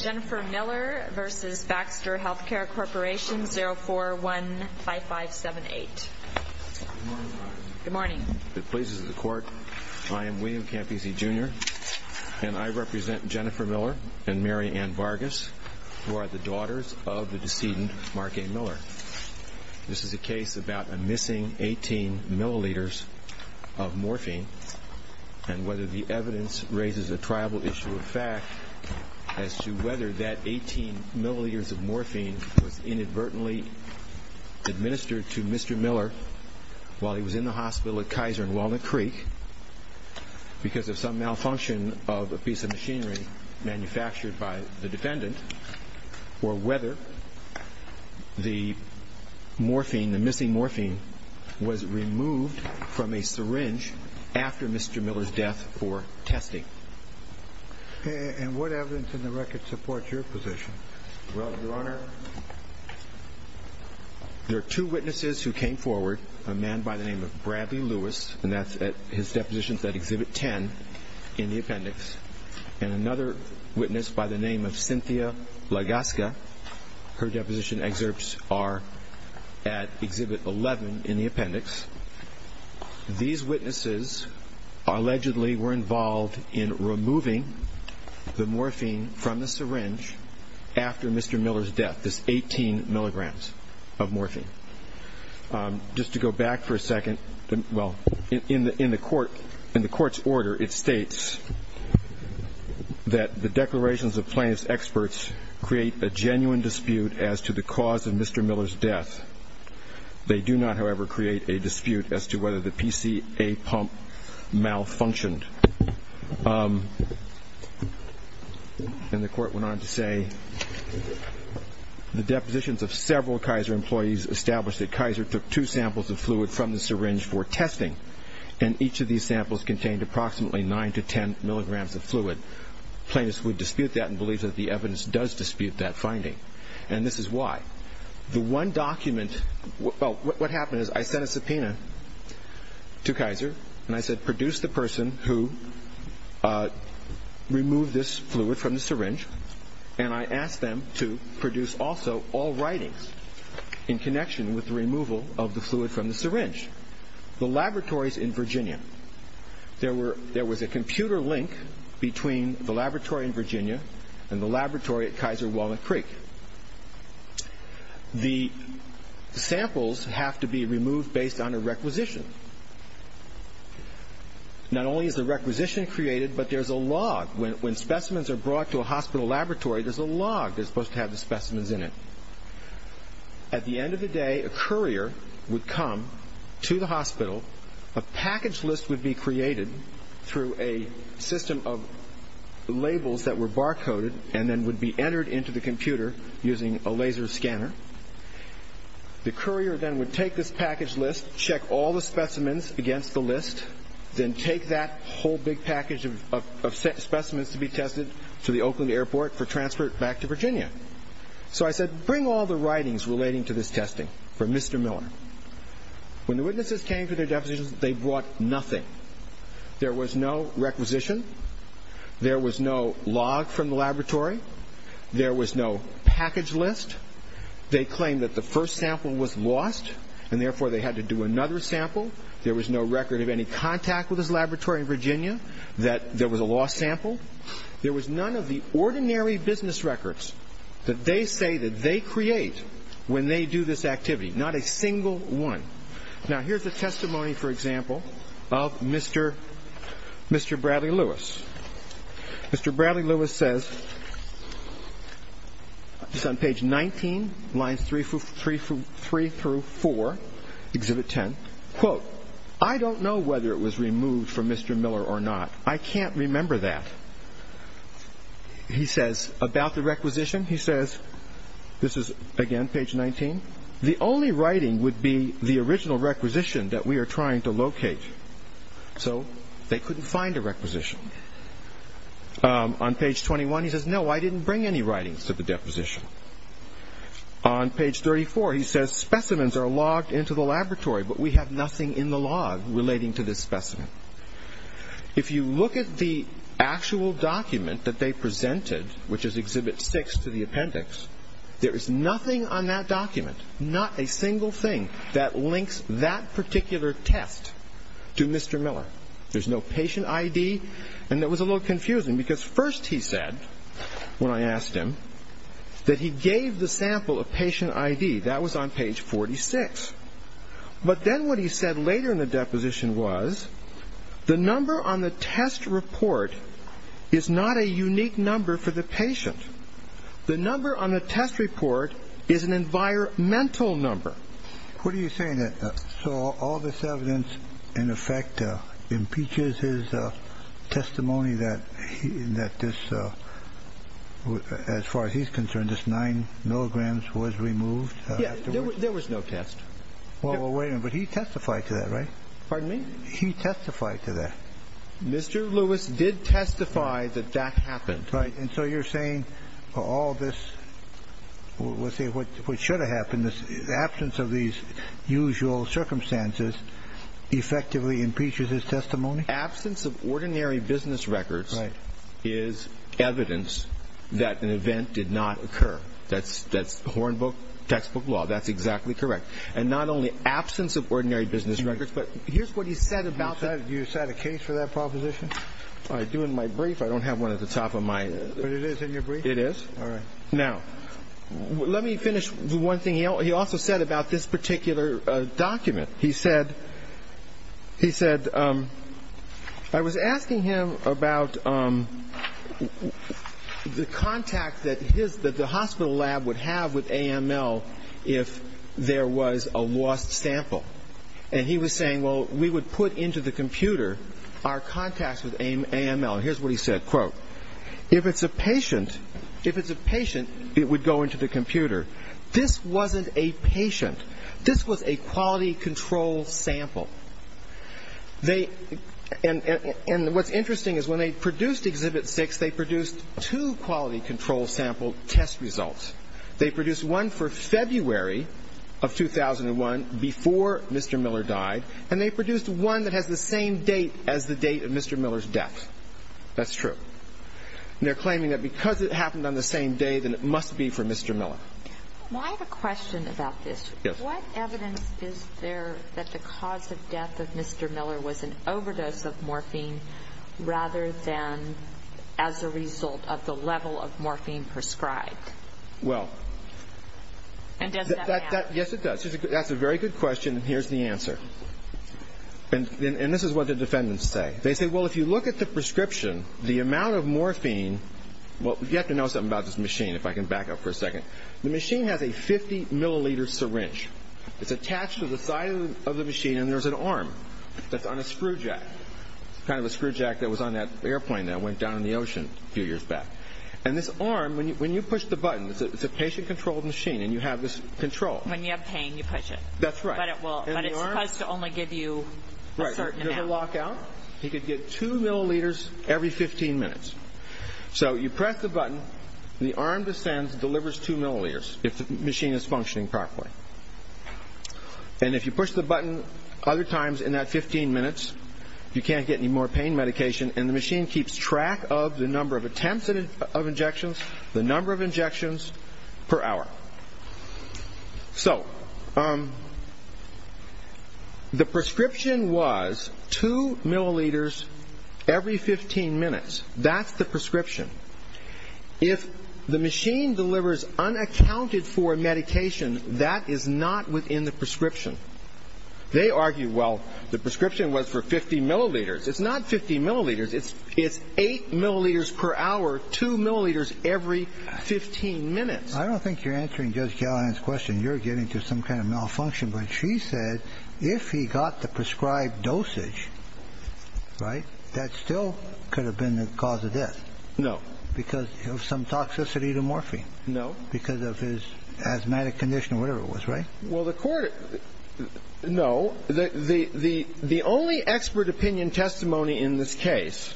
Jennifer Miller v. Baxter Healthcare Corp. 041-5578. Good morning. If it pleases the Court, I am William Campisi Jr. and I represent Jennifer Miller and Mary Ann Vargas, who are the daughters of the decedent Mark A. Miller. This is a case about a missing 18 milliliters of morphine and whether the evidence raises a tribal issue of fact as to whether that 18 milliliters of morphine was inadvertently administered to Mr. Miller while he was in the hospital at Kaiser and Walnut Creek because of some malfunction of a piece of machinery manufactured by the defendant, or whether the morphine, the missing morphine, was removed from a syringe after Mr. Miller's death for testing. And what evidence in the record supports your position? Well, Your Honor, there are two witnesses who came forward, a man by the name of Bradley Lewis, and that's at his depositions at Exhibit 10 in the appendix, and another witness by the name of Cynthia Lagasca. Her deposition excerpts are at Exhibit 11 in the appendix. These witnesses allegedly were involved in removing the morphine from the syringe after Mr. Miller's death, this 18 milligrams of morphine. Just to go back for a second, well, in the court's order, it states that the declarations of plaintiff's experts create a genuine dispute as to the cause of Mr. Miller's death. They do not, however, create a dispute as to whether the PCA pump malfunctioned. And the court went on to say, the depositions of several Kaiser employees established that Kaiser took two samples of fluid from the syringe for testing, and each of these samples contained approximately 9 to 10 milligrams of fluid. Plaintiffs would dispute that and believe that the evidence does dispute that finding, and this is why. The one document, well, what happened is I sent a subpoena to Kaiser, and I said, produce the person who removed this fluid from the syringe, and I asked them to produce also all writings in connection with the removal of the fluid from the syringe. The laboratories in Virginia, there was a computer link between the laboratory in Virginia and the laboratory at Kaiser Walnut Creek. The samples have to be removed based on a requisition. Not only is the requisition created, but there's a log. When specimens are brought to a hospital laboratory, there's a log that's supposed to have the specimens in it. At the end of the day, a courier would come to the hospital. A package list would be created through a system of labels that were barcoded and then would be entered into the computer using a laser scanner. The courier then would take this package list, check all the specimens against the list, then take that whole big package of specimens to be tested to the Oakland airport for transport back to Virginia. So I said, bring all the writings relating to this testing from Mr. Miller. When the witnesses came to their depositions, they brought nothing. There was no requisition. There was no log from the laboratory. There was no package list. They claimed that the first sample was lost, and therefore they had to do another sample. There was no record of any contact with his laboratory in Virginia, that there was a lost sample. There was none of the ordinary business records that they say that they create when they do this activity, not a single one. Now, here's a testimony, for example, of Mr. Bradley Lewis. Mr. Bradley Lewis says, it's on page 19, lines 3 through 4, exhibit 10, quote, I don't know whether it was removed from Mr. Miller or not. I can't remember that. He says, about the requisition, he says, this is, again, page 19, the only writing would be the original requisition that we are trying to locate. So they couldn't find a requisition. On page 21, he says, no, I didn't bring any writings to the deposition. On page 34, he says, specimens are logged into the laboratory, but we have nothing in the log relating to this specimen. If you look at the actual document that they presented, which is exhibit 6 to the appendix, there is nothing on that document, not a single thing that links that particular test to Mr. Miller. There's no patient ID, and it was a little confusing, because first he said, when I asked him, that he gave the sample a patient ID. That was on page 46. But then what he said later in the deposition was, the number on the test report is not a unique number for the patient. The number on the test report is an environmental number. What are you saying? So all this evidence, in effect, impeaches his testimony that this, as far as he's concerned, this 9 milligrams was removed afterwards? Yes, there was no test. Well, wait a minute, but he testified to that, right? Pardon me? He testified to that. Mr. Lewis did testify that that happened. Right, and so you're saying all this, let's see, what should have happened, the absence of these usual circumstances effectively impeaches his testimony? Absence of ordinary business records is evidence that an event did not occur. That's Hornbook textbook law. That's exactly correct. And not only absence of ordinary business records, but here's what he said about that. You set a case for that proposition? I do in my brief. I don't have one at the top of my. But it is in your brief? It is. All right. Now, let me finish the one thing he also said about this particular document. He said, I was asking him about the contact that the hospital lab would have with AML if there was a lost sample. And he was saying, well, we would put into the computer our contacts with AML. Here's what he said, quote, If it's a patient, if it's a patient, it would go into the computer. This wasn't a patient. This was a quality control sample. And what's interesting is when they produced Exhibit 6, they produced two quality control sample test results. They produced one for February of 2001 before Mr. Miller died, and they produced one that has the same date as the date of Mr. Miller's death. That's true. And they're claiming that because it happened on the same day, then it must be for Mr. Miller. Well, I have a question about this. Yes. What evidence is there that the cause of death of Mr. Miller was an overdose of morphine rather than as a result of the level of morphine prescribed? Well. And does that match? Yes, it does. That's a very good question, and here's the answer. And this is what the defendants say. They say, well, if you look at the prescription, the amount of morphine, well, you have to know something about this machine if I can back up for a second. The machine has a 50-milliliter syringe. It's attached to the side of the machine, and there's an arm that's on a screw jack, kind of a screw jack that was on that airplane that went down in the ocean a few years back. And this arm, when you push the button, it's a patient-controlled machine, and you have this control. When you have pain, you push it. But it's supposed to only give you a certain amount. If you have a lockout, you could get 2 milliliters every 15 minutes. So you press the button, and the arm descends and delivers 2 milliliters if the machine is functioning properly. And if you push the button other times in that 15 minutes, you can't get any more pain medication, and the machine keeps track of the number of attempts of injections, the number of injections per hour. So, the prescription was 2 milliliters every 15 minutes. That's the prescription. If the machine delivers unaccounted-for medication, that is not within the prescription. They argue, well, the prescription was for 50 milliliters. It's not 50 milliliters. It's 8 milliliters per hour, 2 milliliters every 15 minutes. I don't think you're answering Judge Gallagher's question. You're getting to some kind of malfunction. But she said if he got the prescribed dosage, right, that still could have been the cause of death. No. Because of some toxicity to morphine. No. Because of his asthmatic condition or whatever it was, right? Well, the Court – no. The only expert opinion testimony in this case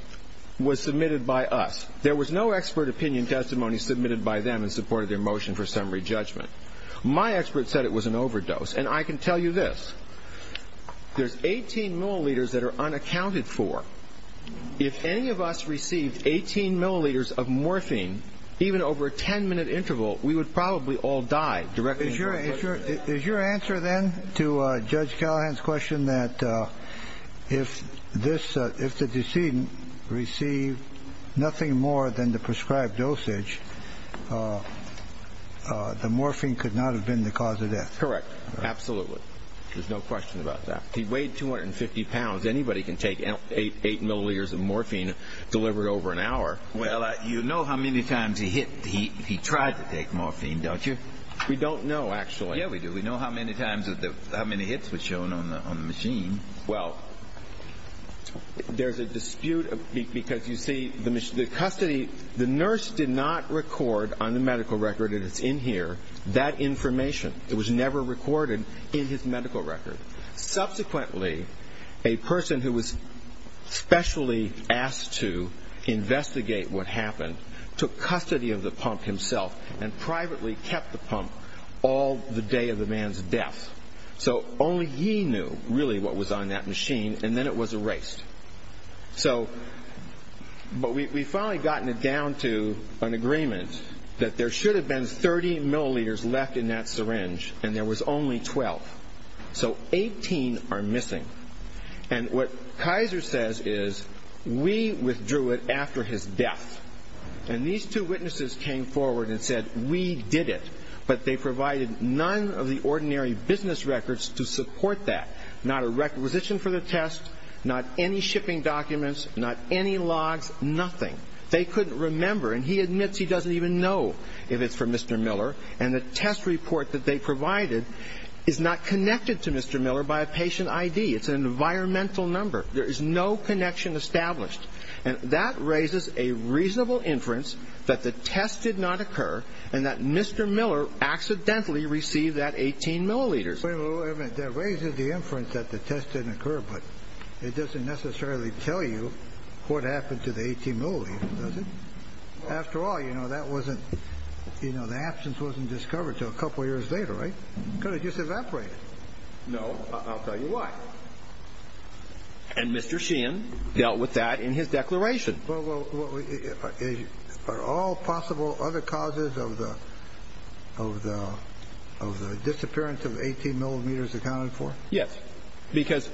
was submitted by us. There was no expert opinion testimony submitted by them in support of their motion for summary judgment. My expert said it was an overdose. And I can tell you this. There's 18 milliliters that are unaccounted for. If any of us received 18 milliliters of morphine, even over a 10-minute interval, we would probably all die. Is your answer then to Judge Gallagher's question that if the decedent received nothing more than the prescribed dosage, the morphine could not have been the cause of death? Correct. Absolutely. There's no question about that. He weighed 250 pounds. Anybody can take 8 milliliters of morphine delivered over an hour. Well, you know how many times he tried to take morphine, don't you? We don't know, actually. Yeah, we do. We know how many times – how many hits were shown on the machine. Well, there's a dispute because, you see, the custody – the nurse did not record on the medical record that it's in here, that information. It was never recorded in his medical record. Subsequently, a person who was specially asked to investigate what happened took custody of the pump himself and privately kept the pump all the day of the man's death. So only he knew, really, what was on that machine, and then it was erased. So – but we've finally gotten it down to an agreement that there should have been 30 milliliters left in that syringe, and there was only 12. So 18 are missing. And what Kaiser says is, we withdrew it after his death. And these two witnesses came forward and said, we did it, but they provided none of the ordinary business records to support that. Not a requisition for the test, not any shipping documents, not any logs, nothing. They couldn't remember, and he admits he doesn't even know if it's for Mr. Miller. And the test report that they provided is not connected to Mr. Miller by a patient ID. It's an environmental number. There is no connection established. And that raises a reasonable inference that the test did not occur and that Mr. Miller accidentally received that 18 milliliters. Wait a minute. That raises the inference that the test didn't occur, but it doesn't necessarily tell you what happened to the 18 milliliters, does it? After all, you know, that wasn't, you know, the absence wasn't discovered until a couple years later, right? It could have just evaporated. No, I'll tell you why. And Mr. Sheehan dealt with that in his declaration. Well, are all possible other causes of the disappearance of 18 millimeters accounted for? Yes, because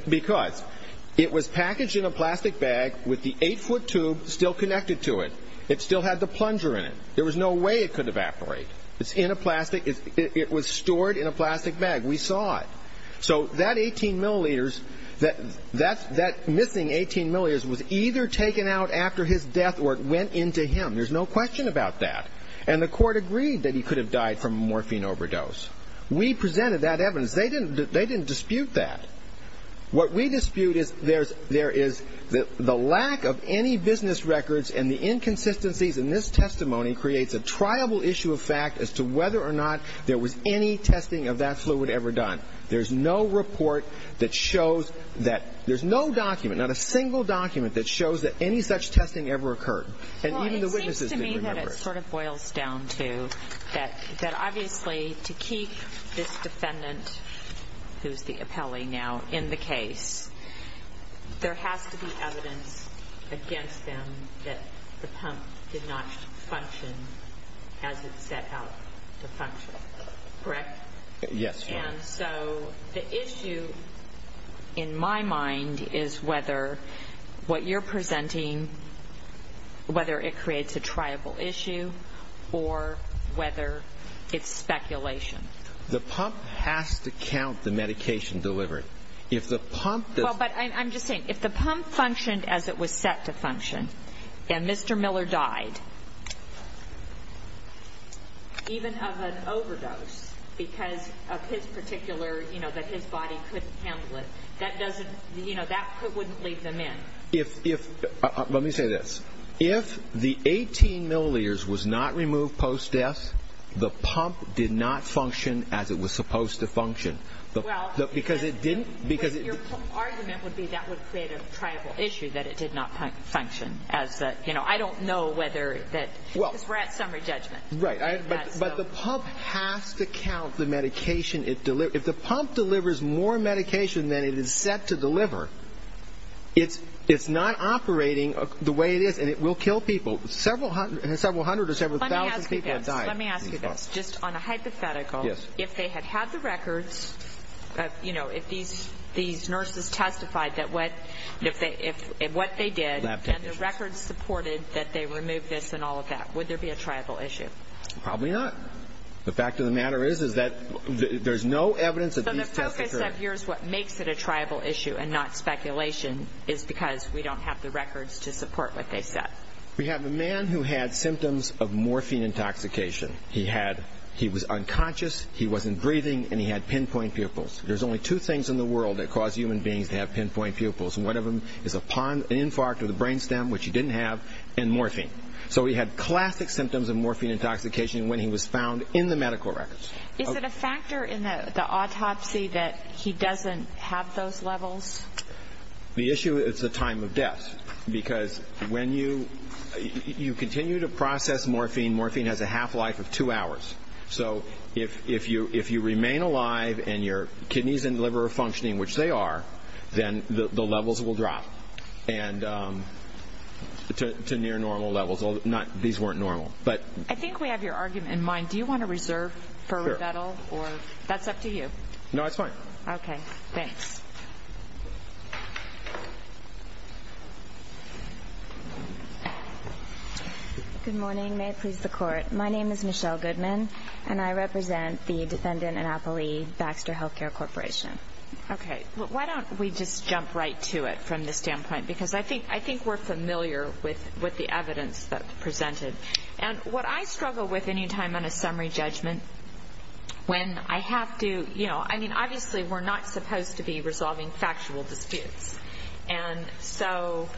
it was packaged in a plastic bag with the 8-foot tube still connected to it. It still had the plunger in it. There was no way it could evaporate. It's in a plastic. It was stored in a plastic bag. We saw it. So that 18 milliliters, that missing 18 milliliters was either taken out after his death or it went into him. There's no question about that. And the court agreed that he could have died from a morphine overdose. We presented that evidence. They didn't dispute that. What we dispute is there is the lack of any business records and the inconsistencies in this testimony creates a triable issue of fact as to whether or not there was any testing of that fluid ever done. There's no report that shows that. There's no document, not a single document, that shows that any such testing ever occurred. And even the witnesses didn't remember it. That's what it sort of boils down to, that obviously to keep this defendant, who's the appellee now, in the case, there has to be evidence against them that the pump did not function as it set out to function, correct? Yes, Your Honor. And so the issue in my mind is whether what you're presenting, whether it creates a triable issue or whether it's speculation. The pump has to count the medication delivered. If the pump does not function as it was set to function and Mr. Miller died, even of an overdose because of his particular, you know, that his body couldn't handle it, that doesn't, you know, that wouldn't lead them in. Let me say this. If the 18 milliliters was not removed post-death, the pump did not function as it was supposed to function. Because it didn't, because it Your argument would be that would create a triable issue that it did not function. I don't know whether that, because we're at summary judgment. Right. But the pump has to count the medication it delivers. If the pump delivers more medication than it is set to deliver, it's not operating the way it is and it will kill people. Several hundred or several thousand people have died. Let me ask you this. Just on a hypothetical. Yes. You know, if these nurses testified that what they did and the records supported that they removed this and all of that, would there be a triable issue? Probably not. The fact of the matter is that there's no evidence that these tests occurred. So the focus of yours, what makes it a triable issue and not speculation, is because we don't have the records to support what they said. We have a man who had symptoms of morphine intoxication. He had, he was unconscious, he wasn't breathing, and he had pinpoint pupils. There's only two things in the world that cause human beings to have pinpoint pupils, and one of them is an infarct of the brain stem, which he didn't have, and morphine. So he had classic symptoms of morphine intoxication when he was found in the medical records. Is it a factor in the autopsy that he doesn't have those levels? The issue is the time of death, because when you continue to process morphine, morphine has a half-life of two hours. So if you remain alive and your kidneys and liver are functioning, which they are, then the levels will drop to near-normal levels. These weren't normal. I think we have your argument in mind. Do you want to reserve for rebuttal? That's up to you. No, that's fine. Okay, thanks. Good morning. May it please the Court. My name is Michelle Goodman, and I represent the defendant and appellee, Baxter Healthcare Corporation. Okay. Why don't we just jump right to it from this standpoint? Because I think we're familiar with the evidence that's presented. And what I struggle with any time on a summary judgment when I have to, you know, I mean, obviously we're not supposed to be resolving factual disputes. And so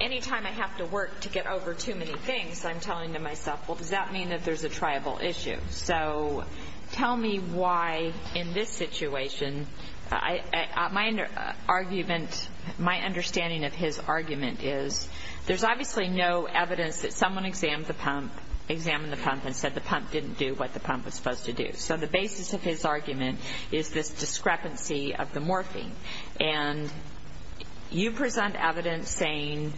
any time I have to work to get over too many things, I'm telling to myself, well, does that mean that there's a triable issue? So tell me why in this situation, my argument, my understanding of his argument is there's obviously no evidence that someone examined the pump and said the pump didn't do what the pump was supposed to do. So the basis of his argument is this discrepancy of the morphing. And you present evidence saying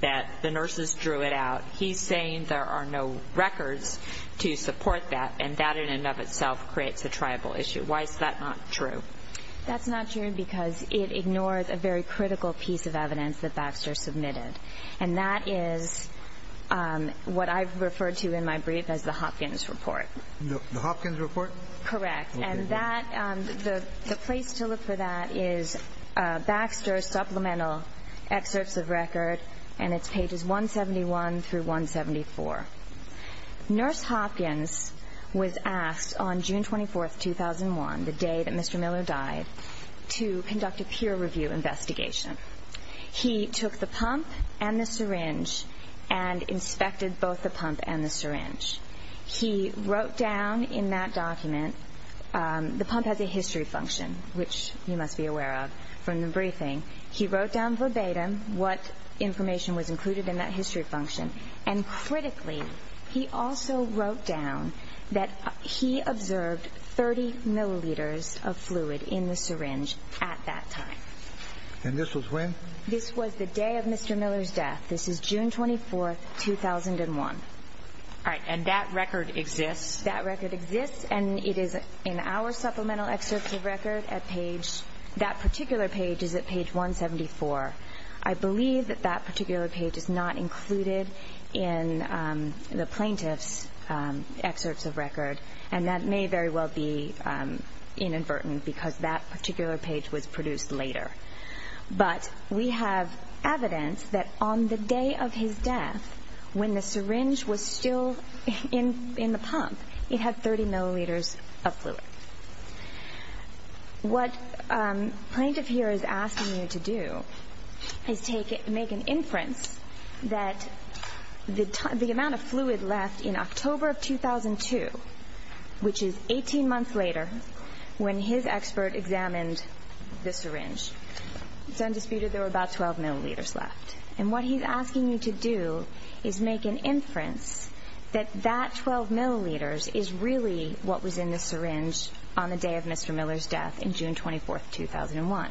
that the nurses drew it out. He's saying there are no records to support that, and that in and of itself creates a triable issue. Why is that not true? That's not true because it ignores a very critical piece of evidence that Baxter submitted. And that is what I've referred to in my brief as the Hopkins report. The Hopkins report? Correct. And that, the place to look for that is Baxter's supplemental excerpts of record, and it's pages 171 through 174. Nurse Hopkins was asked on June 24th, 2001, the day that Mr. Miller died, to conduct a peer review investigation. He took the pump and the syringe and inspected both the pump and the syringe. He wrote down in that document, the pump has a history function, which you must be aware of from the briefing. He wrote down verbatim what information was included in that history function. And critically, he also wrote down that he observed 30 milliliters of fluid in the syringe at that time. And this was when? This was the day of Mr. Miller's death. This is June 24th, 2001. All right. And that record exists? That record exists, and it is in our supplemental excerpts of record at page, that particular page is at page 174. I believe that that particular page is not included in the plaintiff's excerpts of record, and that may very well be inadvertent because that particular page was produced later. But we have evidence that on the day of his death, when the syringe was still in the pump, it had 30 milliliters of fluid. What the plaintiff here is asking you to do is make an inference that the amount of fluid left in October of 2002, which is 18 months later when his expert examined the syringe, it's undisputed there were about 12 milliliters left. And what he's asking you to do is make an inference that that 12 milliliters is really what was in the syringe on the day of Mr. Miller's death in June 24th, 2001.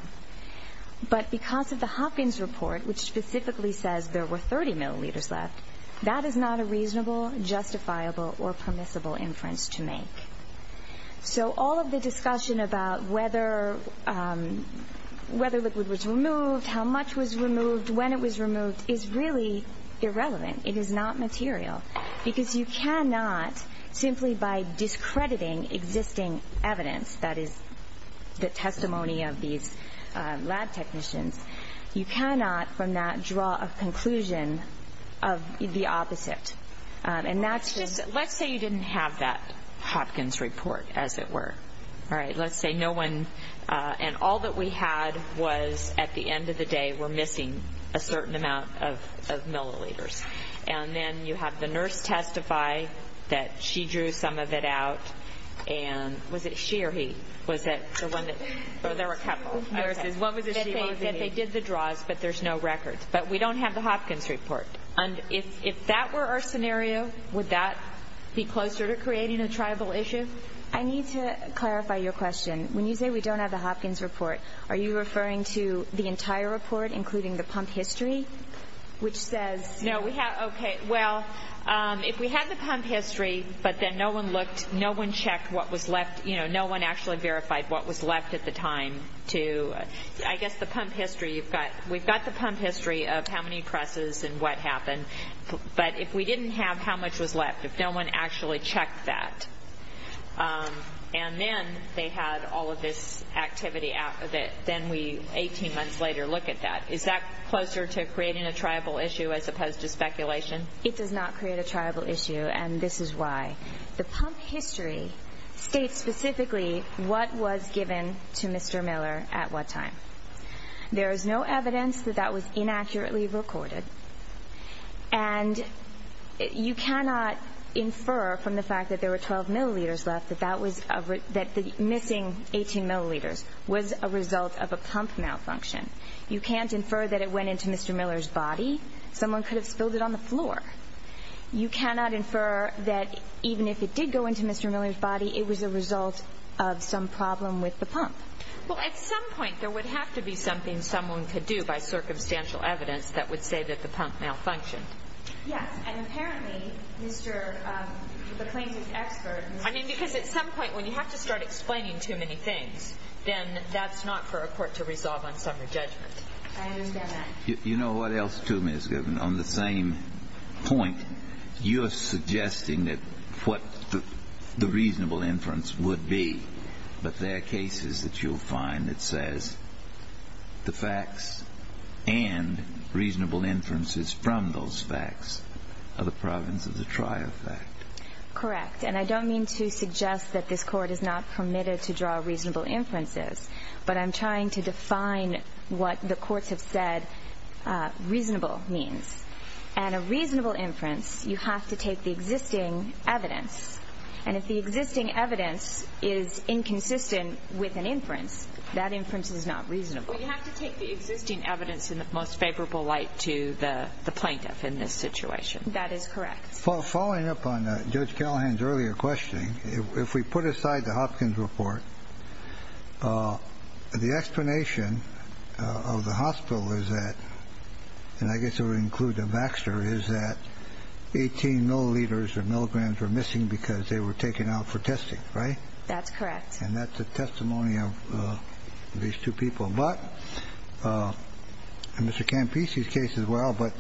But because of the Hopkins report, which specifically says there were 30 milliliters left, that is not a reasonable, justifiable, or permissible inference to make. So all of the discussion about whether liquid was removed, how much was removed, when it was removed, is really irrelevant. It is not material. Because you cannot, simply by discrediting existing evidence that is the testimony of these lab technicians, you cannot from that draw a conclusion of the opposite. And that's just... Let's say you didn't have that Hopkins report, as it were. All right. Let's say no one, and all that we had was at the end of the day we're missing a certain amount of milliliters. And then you have the nurse testify that she drew some of it out. And was it she or he? Was it the one that... Oh, there were a couple. What was it she, what was it he? That they did the draws, but there's no records. But we don't have the Hopkins report. And if that were our scenario, would that be closer to creating a tribal issue? I need to clarify your question. When you say we don't have the Hopkins report, are you referring to the entire report, including the pump history, which says... No, we have... Okay. Well, if we had the pump history, but then no one looked, no one checked what was left, you know, no one actually verified what was left at the time to... I guess the pump history, we've got the pump history of how many presses and what happened. But if we didn't have how much was left, if no one actually checked that, and then they had all of this activity out of it, then we, 18 months later, look at that. Is that closer to creating a tribal issue as opposed to speculation? It does not create a tribal issue, and this is why. The pump history states specifically what was given to Mr. Miller at what time. There is no evidence that that was inaccurately recorded, and you cannot infer from the fact that there were 12 milliliters left that the missing 18 milliliters was a result of a pump malfunction. You can't infer that it went into Mr. Miller's body. Someone could have spilled it on the floor. You cannot infer that even if it did go into Mr. Miller's body, it was a result of some problem with the pump. Well, at some point, there would have to be something someone could do by circumstantial evidence that would say that the pump malfunctioned. Yes, and apparently, Mr. McClain's expert... I mean, because at some point, when you have to start explaining too many things, then that's not for a court to resolve on summary judgment. I understand that. You know what else, too, Ms. Goodman? On the same point, you're suggesting that what the reasonable inference would be, but there are cases that you'll find that says the facts and reasonable inferences from those facts are the province of the trier fact. Correct. And I don't mean to suggest that this Court is not permitted to draw reasonable inferences, but I'm trying to define what the courts have said reasonable means. And a reasonable inference, you have to take the existing evidence. And if the existing evidence is inconsistent with an inference, that inference is not reasonable. Well, you have to take the existing evidence in the most favorable light to the plaintiff in this situation. That is correct. Following up on Judge Callahan's earlier questioning, if we put aside the Hopkins report, the explanation of the hospital is that, and I guess it would include the Baxter, is that 18 milliliters or milligrams were missing because they were taken out for testing, right? That's correct. And that's a testimony of these two people. But in Mr. Campisi's case as well, but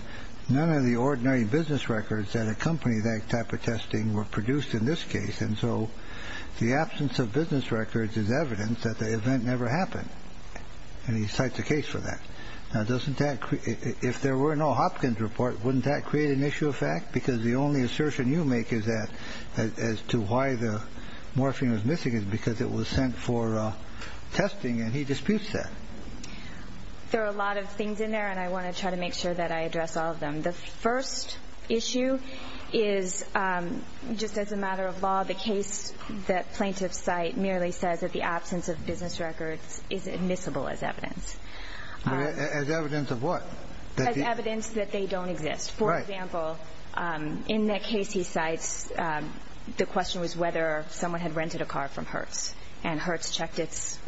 none of the ordinary business records that accompany that type of testing were produced in this case, and so the absence of business records is evidence that the event never happened. And he cites a case for that. Now, if there were no Hopkins report, wouldn't that create an issue of fact? Because the only assertion you make is that as to why the morphine was missing is because it was sent for testing, and he disputes that. There are a lot of things in there, and I want to try to make sure that I address all of them. The first issue is just as a matter of law, the case that plaintiffs cite merely says that the absence of business records is admissible as evidence. As evidence of what? As evidence that they don't exist. Right. For example, in that case he cites, the question was whether someone had rented a car from Hertz, and Hertz checked its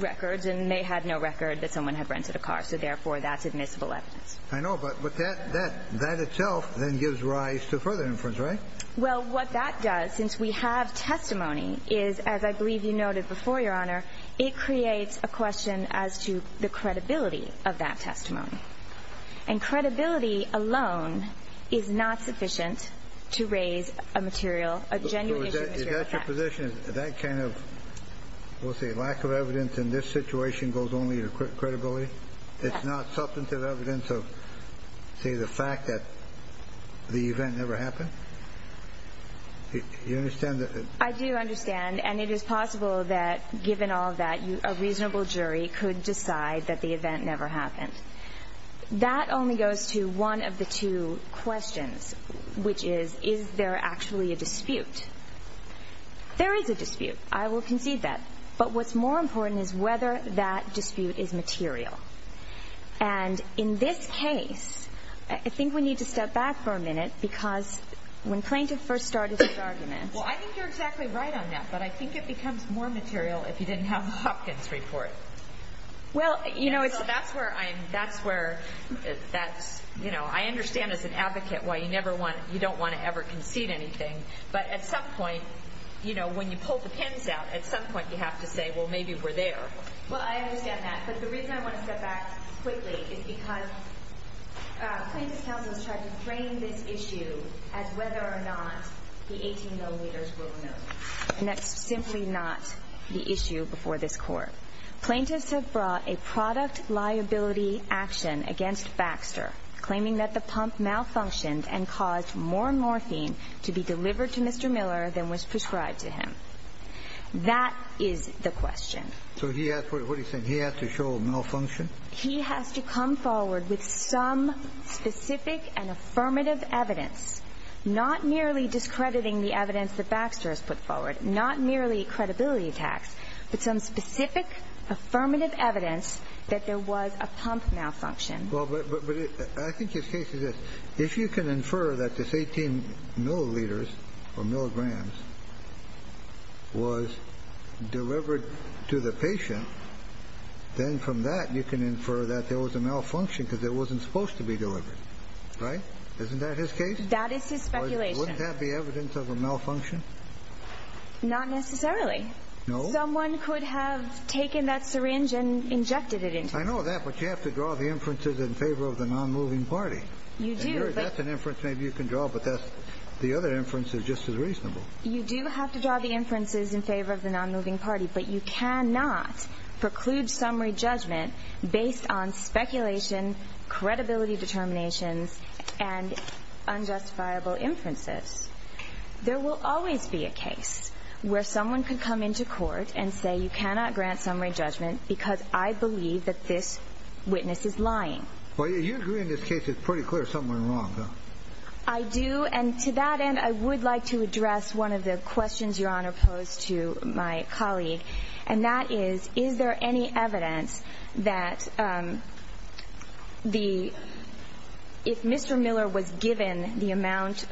records, and they had no record that someone had rented a car, so therefore that's admissible evidence. I know, but that itself then gives rise to further inference, right? Well, what that does, since we have testimony, is, as I believe you noted before, Your Honor, it creates a question as to the credibility of that testimony. And credibility alone is not sufficient to raise a material, a genuine issue of fact. Is that your position? That kind of, we'll say, lack of evidence in this situation goes only to credibility? Yes. It's not substantive evidence of, say, the fact that the event never happened? You understand that? I do understand, and it is possible that, given all that, a reasonable jury could decide that the event never happened. That only goes to one of the two questions, which is, is there actually a dispute? There is a dispute. I will concede that. But what's more important is whether that dispute is material. And in this case, I think we need to step back for a minute because when plaintiff first started his argument. Well, I think you're exactly right on that, but I think it becomes more material if you didn't have Hopkins' report. Well, you know, it's. That's where I'm, that's where, that's, you know, I understand as an advocate why you never want, you don't want to ever concede anything, but at some point, you know, when you pull the pins out, at some point you have to say, well, maybe we're there. Well, I understand that. But the reason I want to step back quickly is because plaintiff's counsel has tried to frame this issue as whether or not the 18 milliliters were removed. And that's simply not the issue before this court. Plaintiffs have brought a product liability action against Baxter, claiming that the pump malfunctioned and caused more morphine to be delivered to Mr. Miller than was prescribed to him. That is the question. So he asked what he's saying. He has to show a malfunction. He has to come forward with some specific and affirmative evidence, not merely discrediting the evidence that Baxter has put forward, not merely credibility attacks, but some specific affirmative evidence that there was a pump malfunction. Well, but I think his case is this. If you can infer that this 18 milliliters or milligrams was delivered to the patient, then from that you can infer that there was a malfunction because it wasn't supposed to be delivered. Right? Isn't that his case? That is his speculation. Wouldn't that be evidence of a malfunction? Not necessarily. No? Someone could have taken that syringe and injected it into him. I know that, but you have to draw the inferences in favor of the nonmoving party. You do. That's an inference maybe you can draw, but the other inference is just as reasonable. You do have to draw the inferences in favor of the nonmoving party, but you cannot preclude summary judgment based on speculation, credibility determinations, and unjustifiable inferences. There will always be a case where someone can come into court and say, you cannot grant summary judgment because I believe that this witness is lying. Well, you agree in this case it's pretty clear something went wrong, though. I do, and to that end, I would like to address one of the questions Your Honor posed to my colleague, and that is, is there any evidence that if Mr. Miller was given the amount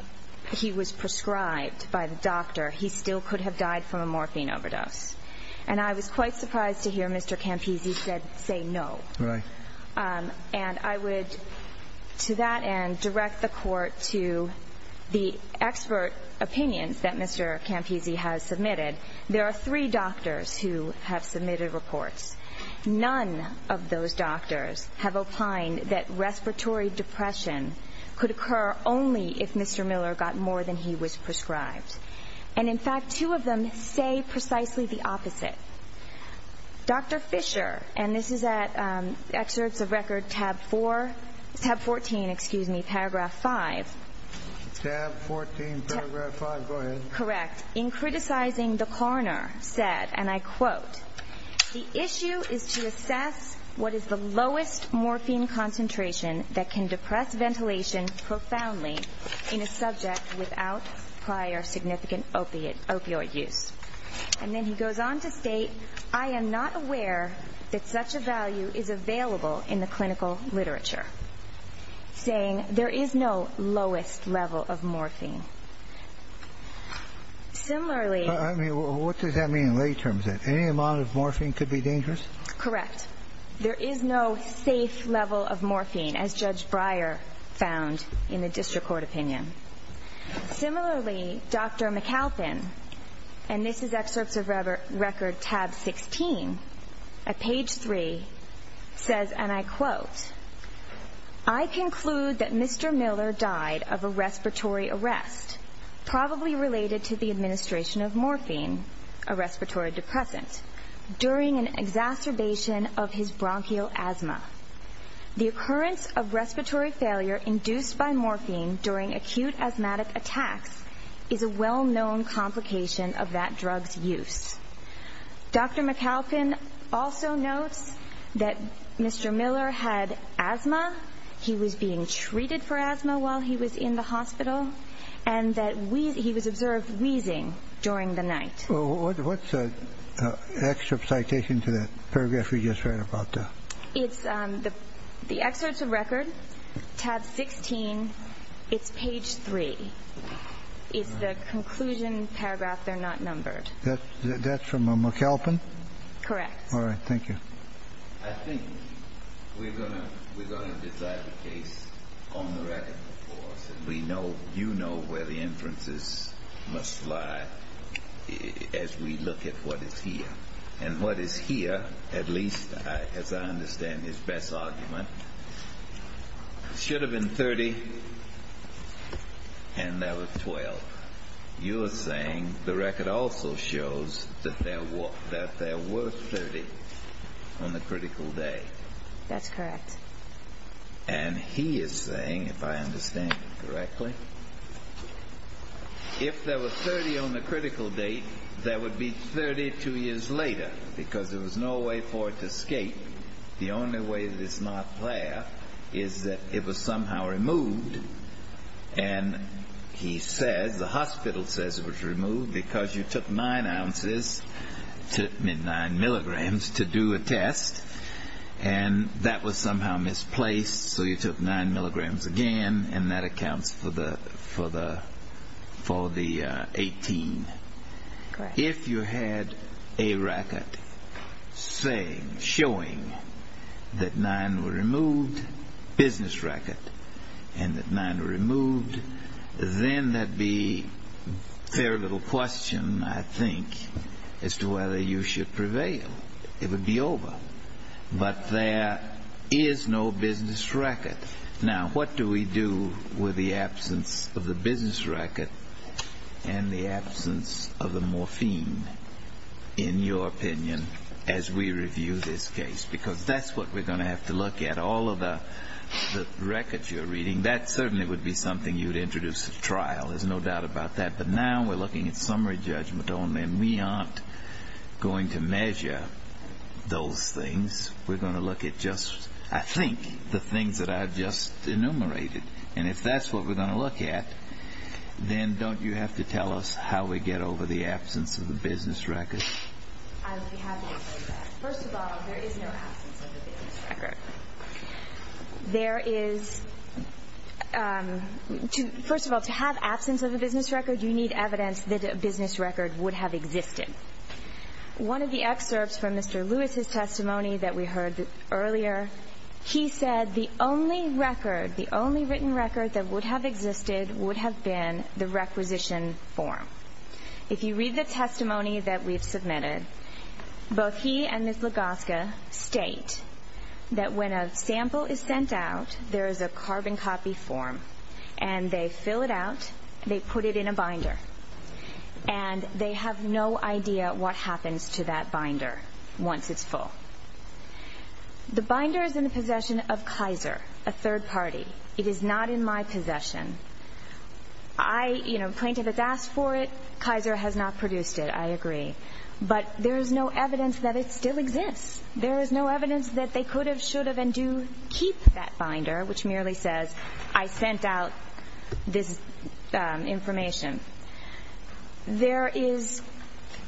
he was prescribed by the doctor, he still could have died from a morphine overdose? And I was quite surprised to hear Mr. Campisi say no. Right. And I would, to that end, direct the court to the expert opinions that Mr. Campisi has submitted. There are three doctors who have submitted reports. None of those doctors have opined that respiratory depression could occur only if Mr. Miller got more than he was prescribed. And, in fact, two of them say precisely the opposite. Dr. Fisher, and this is at excerpts of record tab 4, tab 14, excuse me, paragraph 5. Tab 14, paragraph 5, go ahead. Correct. In criticizing the coroner said, and I quote, the issue is to assess what is the lowest morphine concentration that can depress ventilation profoundly in a subject without prior significant opioid use. And then he goes on to state, I am not aware that such a value is available in the clinical literature, saying there is no lowest level of morphine. Similarly. What does that mean in lay terms? Any amount of morphine could be dangerous? Correct. There is no safe level of morphine, as Judge Breyer found in the district court opinion. Similarly, Dr. McAlpin, and this is excerpts of record tab 16, at page 3, says, and I quote, I conclude that Mr. Miller died of a respiratory arrest, probably related to the administration of morphine, a respiratory depressant, during an exacerbation of his bronchial asthma. The occurrence of respiratory failure induced by morphine during acute asthmatic attacks is a well-known complication of that drug's use. Dr. McAlpin also notes that Mr. Miller had asthma, he was being treated for asthma while he was in the hospital, and that he was observed wheezing during the night. What's the excerpt citation to that paragraph we just read about? It's the excerpts of record, tab 16, it's page 3. It's the conclusion paragraph, they're not numbered. That's from McAlpin? Correct. All right, thank you. I think we're going to decide the case on the record, of course, and you know where the inferences must lie as we look at what is here. And what is here, at least as I understand his best argument, should have been 30, and that was 12. You're saying the record also shows that there were 30 on the critical day. That's correct. And he is saying, if I understand correctly, if there were 30 on the critical date, there would be 32 years later, because there was no way for it to escape. The only way that it's not there is that it was somehow removed. And he says, the hospital says it was removed because you took 9 ounces, 9 milligrams, to do a test, and that was somehow misplaced, so you took 9 milligrams again, and that accounts for the 18. Correct. If you had a record showing that 9 were removed, business record, and that 9 were removed, then there'd be very little question, I think, as to whether you should prevail. It would be over. But there is no business record. Now, what do we do with the absence of the business record and the absence of the morphine, in your opinion, as we review this case? Because that's what we're going to have to look at. All of the records you're reading, that certainly would be something you'd introduce at trial. There's no doubt about that. But now we're looking at summary judgment only, and we aren't going to measure those things. We're going to look at just, I think, the things that I've just enumerated. And if that's what we're going to look at, then don't you have to tell us how we get over the absence of the business record? I would be happy to do that. First of all, there is no absence of the business record. There is – first of all, to have absence of a business record, you need evidence that a business record would have existed. One of the excerpts from Mr. Lewis's testimony that we heard earlier, he said the only record, the only written record that would have existed would have been the requisition form. If you read the testimony that we've submitted, both he and Ms. Lagoska state that when a sample is sent out, there is a carbon copy form, and they fill it out, they put it in a binder, and they have no idea what happens to that binder once it's full. The binder is in the possession of Kaiser, a third party. It is not in my possession. I, you know, plaintiff has asked for it. Kaiser has not produced it. I agree. But there is no evidence that it still exists. There is no evidence that they could have, should have, and do keep that binder, which merely says, I sent out this information. There is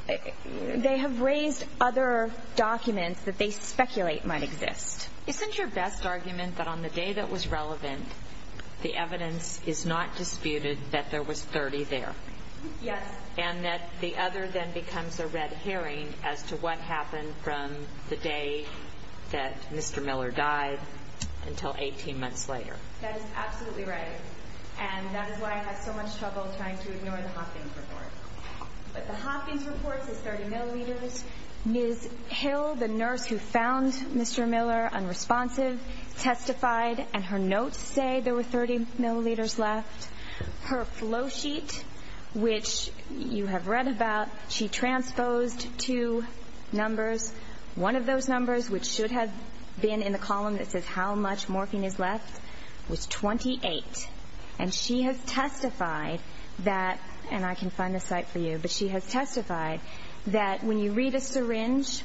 – they have raised other documents that they speculate might exist. Isn't your best argument that on the day that was relevant, the evidence is not disputed that there was 30 there? Yes. And that the other then becomes a red herring as to what happened from the day that Mr. Miller died until 18 months later? That is absolutely right. And that is why I had so much trouble trying to ignore the Hopkins report. But the Hopkins report says 30 milliliters. Ms. Hill, the nurse who found Mr. Miller unresponsive, testified, and her notes say there were 30 milliliters left. Her flow sheet, which you have read about, she transposed two numbers. One of those numbers, which should have been in the column that says how much morphine is left, was 28. And she has testified that – and I can find the site for you – but she has testified that when you read a syringe,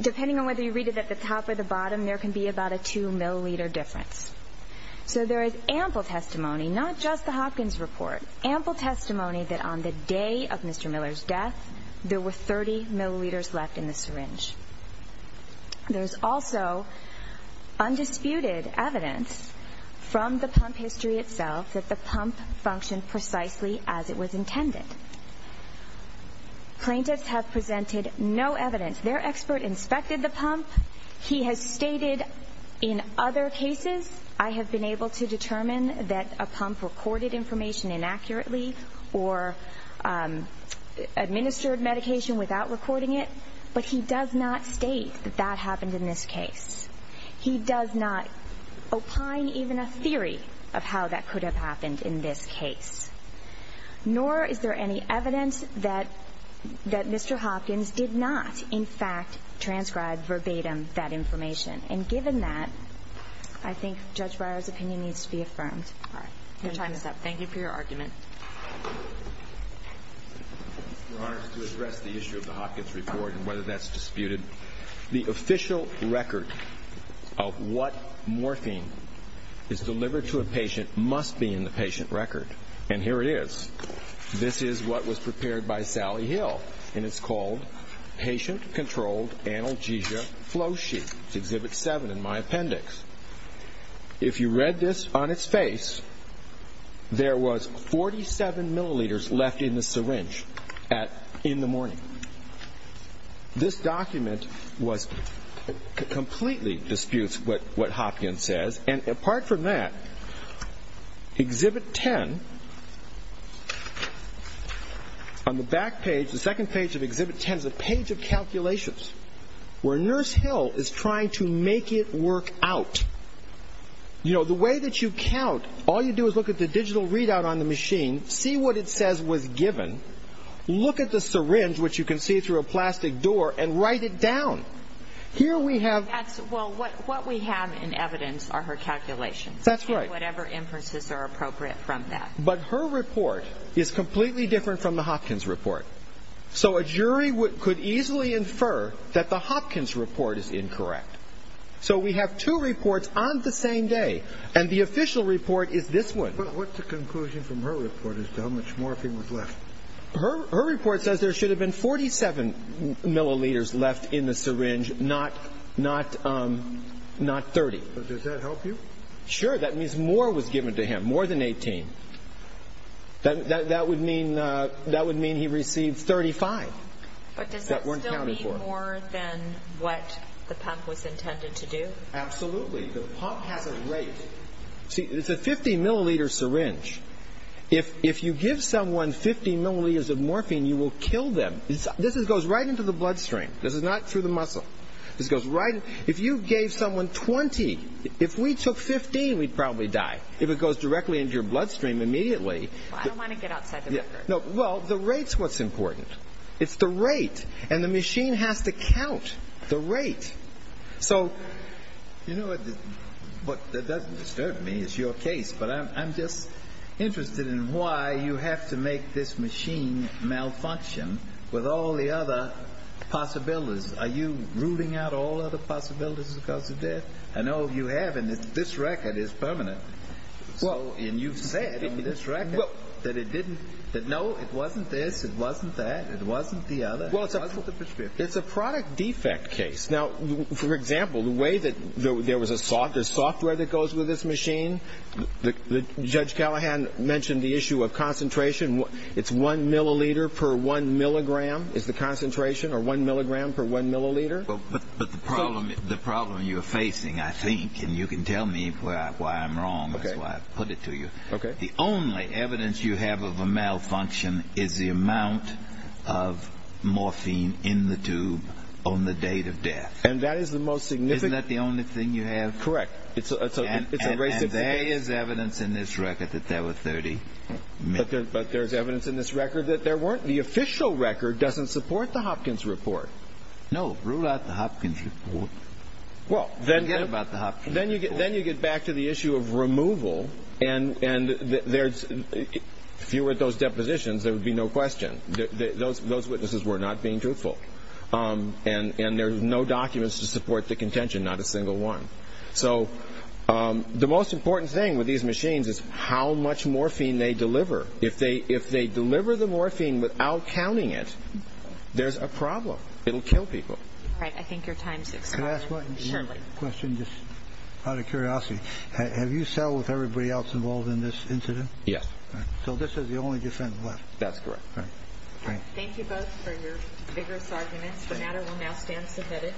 depending on whether you read it at the top or the bottom, there can be about a 2 milliliter difference. So there is ample testimony, not just the Hopkins report. Ample testimony that on the day of Mr. Miller's death, there were 30 milliliters left in the syringe. There is also undisputed evidence from the pump history itself that the pump functioned precisely as it was intended. Plaintiffs have presented no evidence. Their expert inspected the pump. He has stated in other cases, I have been able to determine that a pump recorded information inaccurately or administered medication without recording it, but he does not state that that happened in this case. He does not opine even a theory of how that could have happened in this case. Nor is there any evidence that Mr. Hopkins did not, in fact, transcribe verbatim that information. And given that, I think Judge Breyer's opinion needs to be affirmed. All right. Your time is up. Thank you for your argument. Your Honor, to address the issue of the Hopkins report and whether that's disputed, the official record of what morphine is delivered to a patient must be in the patient record. And here it is. This is what was prepared by Sally Hill. And it's called Patient Controlled Analgesia Flow Sheet. It's Exhibit 7 in my appendix. If you read this on its face, there was 47 milliliters left in the syringe in the morning. This document completely disputes what Hopkins says. And apart from that, Exhibit 10, on the back page, the second page of Exhibit 10, is a page of calculations where Nurse Hill is trying to make it work out. You know, the way that you count, all you do is look at the digital readout on the machine, see what it says was given, look at the syringe, which you can see through a plastic door, and write it down. Here we have ---- Well, what we have in evidence are her calculations. That's right. And whatever inferences are appropriate from that. But her report is completely different from the Hopkins report. So a jury could easily infer that the Hopkins report is incorrect. So we have two reports on the same day, and the official report is this one. But what's the conclusion from her report as to how much morphine was left? Her report says there should have been 47 milliliters left in the syringe, not 30. But does that help you? Sure. That means more was given to him, more than 18. That would mean he received 35. But does that still mean more than what the pump was intended to do? Absolutely. The pump has a rate. See, it's a 50-milliliter syringe. If you give someone 50 milliliters of morphine, you will kill them. This goes right into the bloodstream. This is not through the muscle. This goes right in. If you gave someone 20, if we took 15, we'd probably die. If it goes directly into your bloodstream immediately. I don't want to get outside the record. Well, the rate's what's important. It's the rate. And the machine has to count the rate. You know what? That doesn't disturb me. It's your case. But I'm just interested in why you have to make this machine malfunction with all the other possibilities. Are you ruling out all other possibilities because of this? I know you have, and this record is permanent. And you've said in this record that it didn't, that, no, it wasn't this, it wasn't that, it wasn't the other. It wasn't the prescription. It's a product defect case. Now, for example, the way that there was a software that goes with this machine, Judge Callahan mentioned the issue of concentration. It's one milliliter per one milligram is the concentration, or one milligram per one milliliter. But the problem you're facing, I think, and you can tell me why I'm wrong. That's why I put it to you. The only evidence you have of a malfunction is the amount of morphine in the tube on the date of death. And that is the most significant. Isn't that the only thing you have? Correct. And there is evidence in this record that there were 30. But there's evidence in this record that there weren't. The official record doesn't support the Hopkins report. No. Rule out the Hopkins report. Forget about the Hopkins report. Then you get back to the issue of removal. And if you were at those depositions, there would be no question. Those witnesses were not being truthful. And there's no documents to support the contention, not a single one. So the most important thing with these machines is how much morphine they deliver. If they deliver the morphine without counting it, there's a problem. It will kill people. All right. I think your time is up. Can I ask one question? Just out of curiosity, have you settled with everybody else involved in this incident? Yes. So this is the only defendant left? That's correct. All right. Thank you both for your vigorous arguments. The matter will now stand submitted.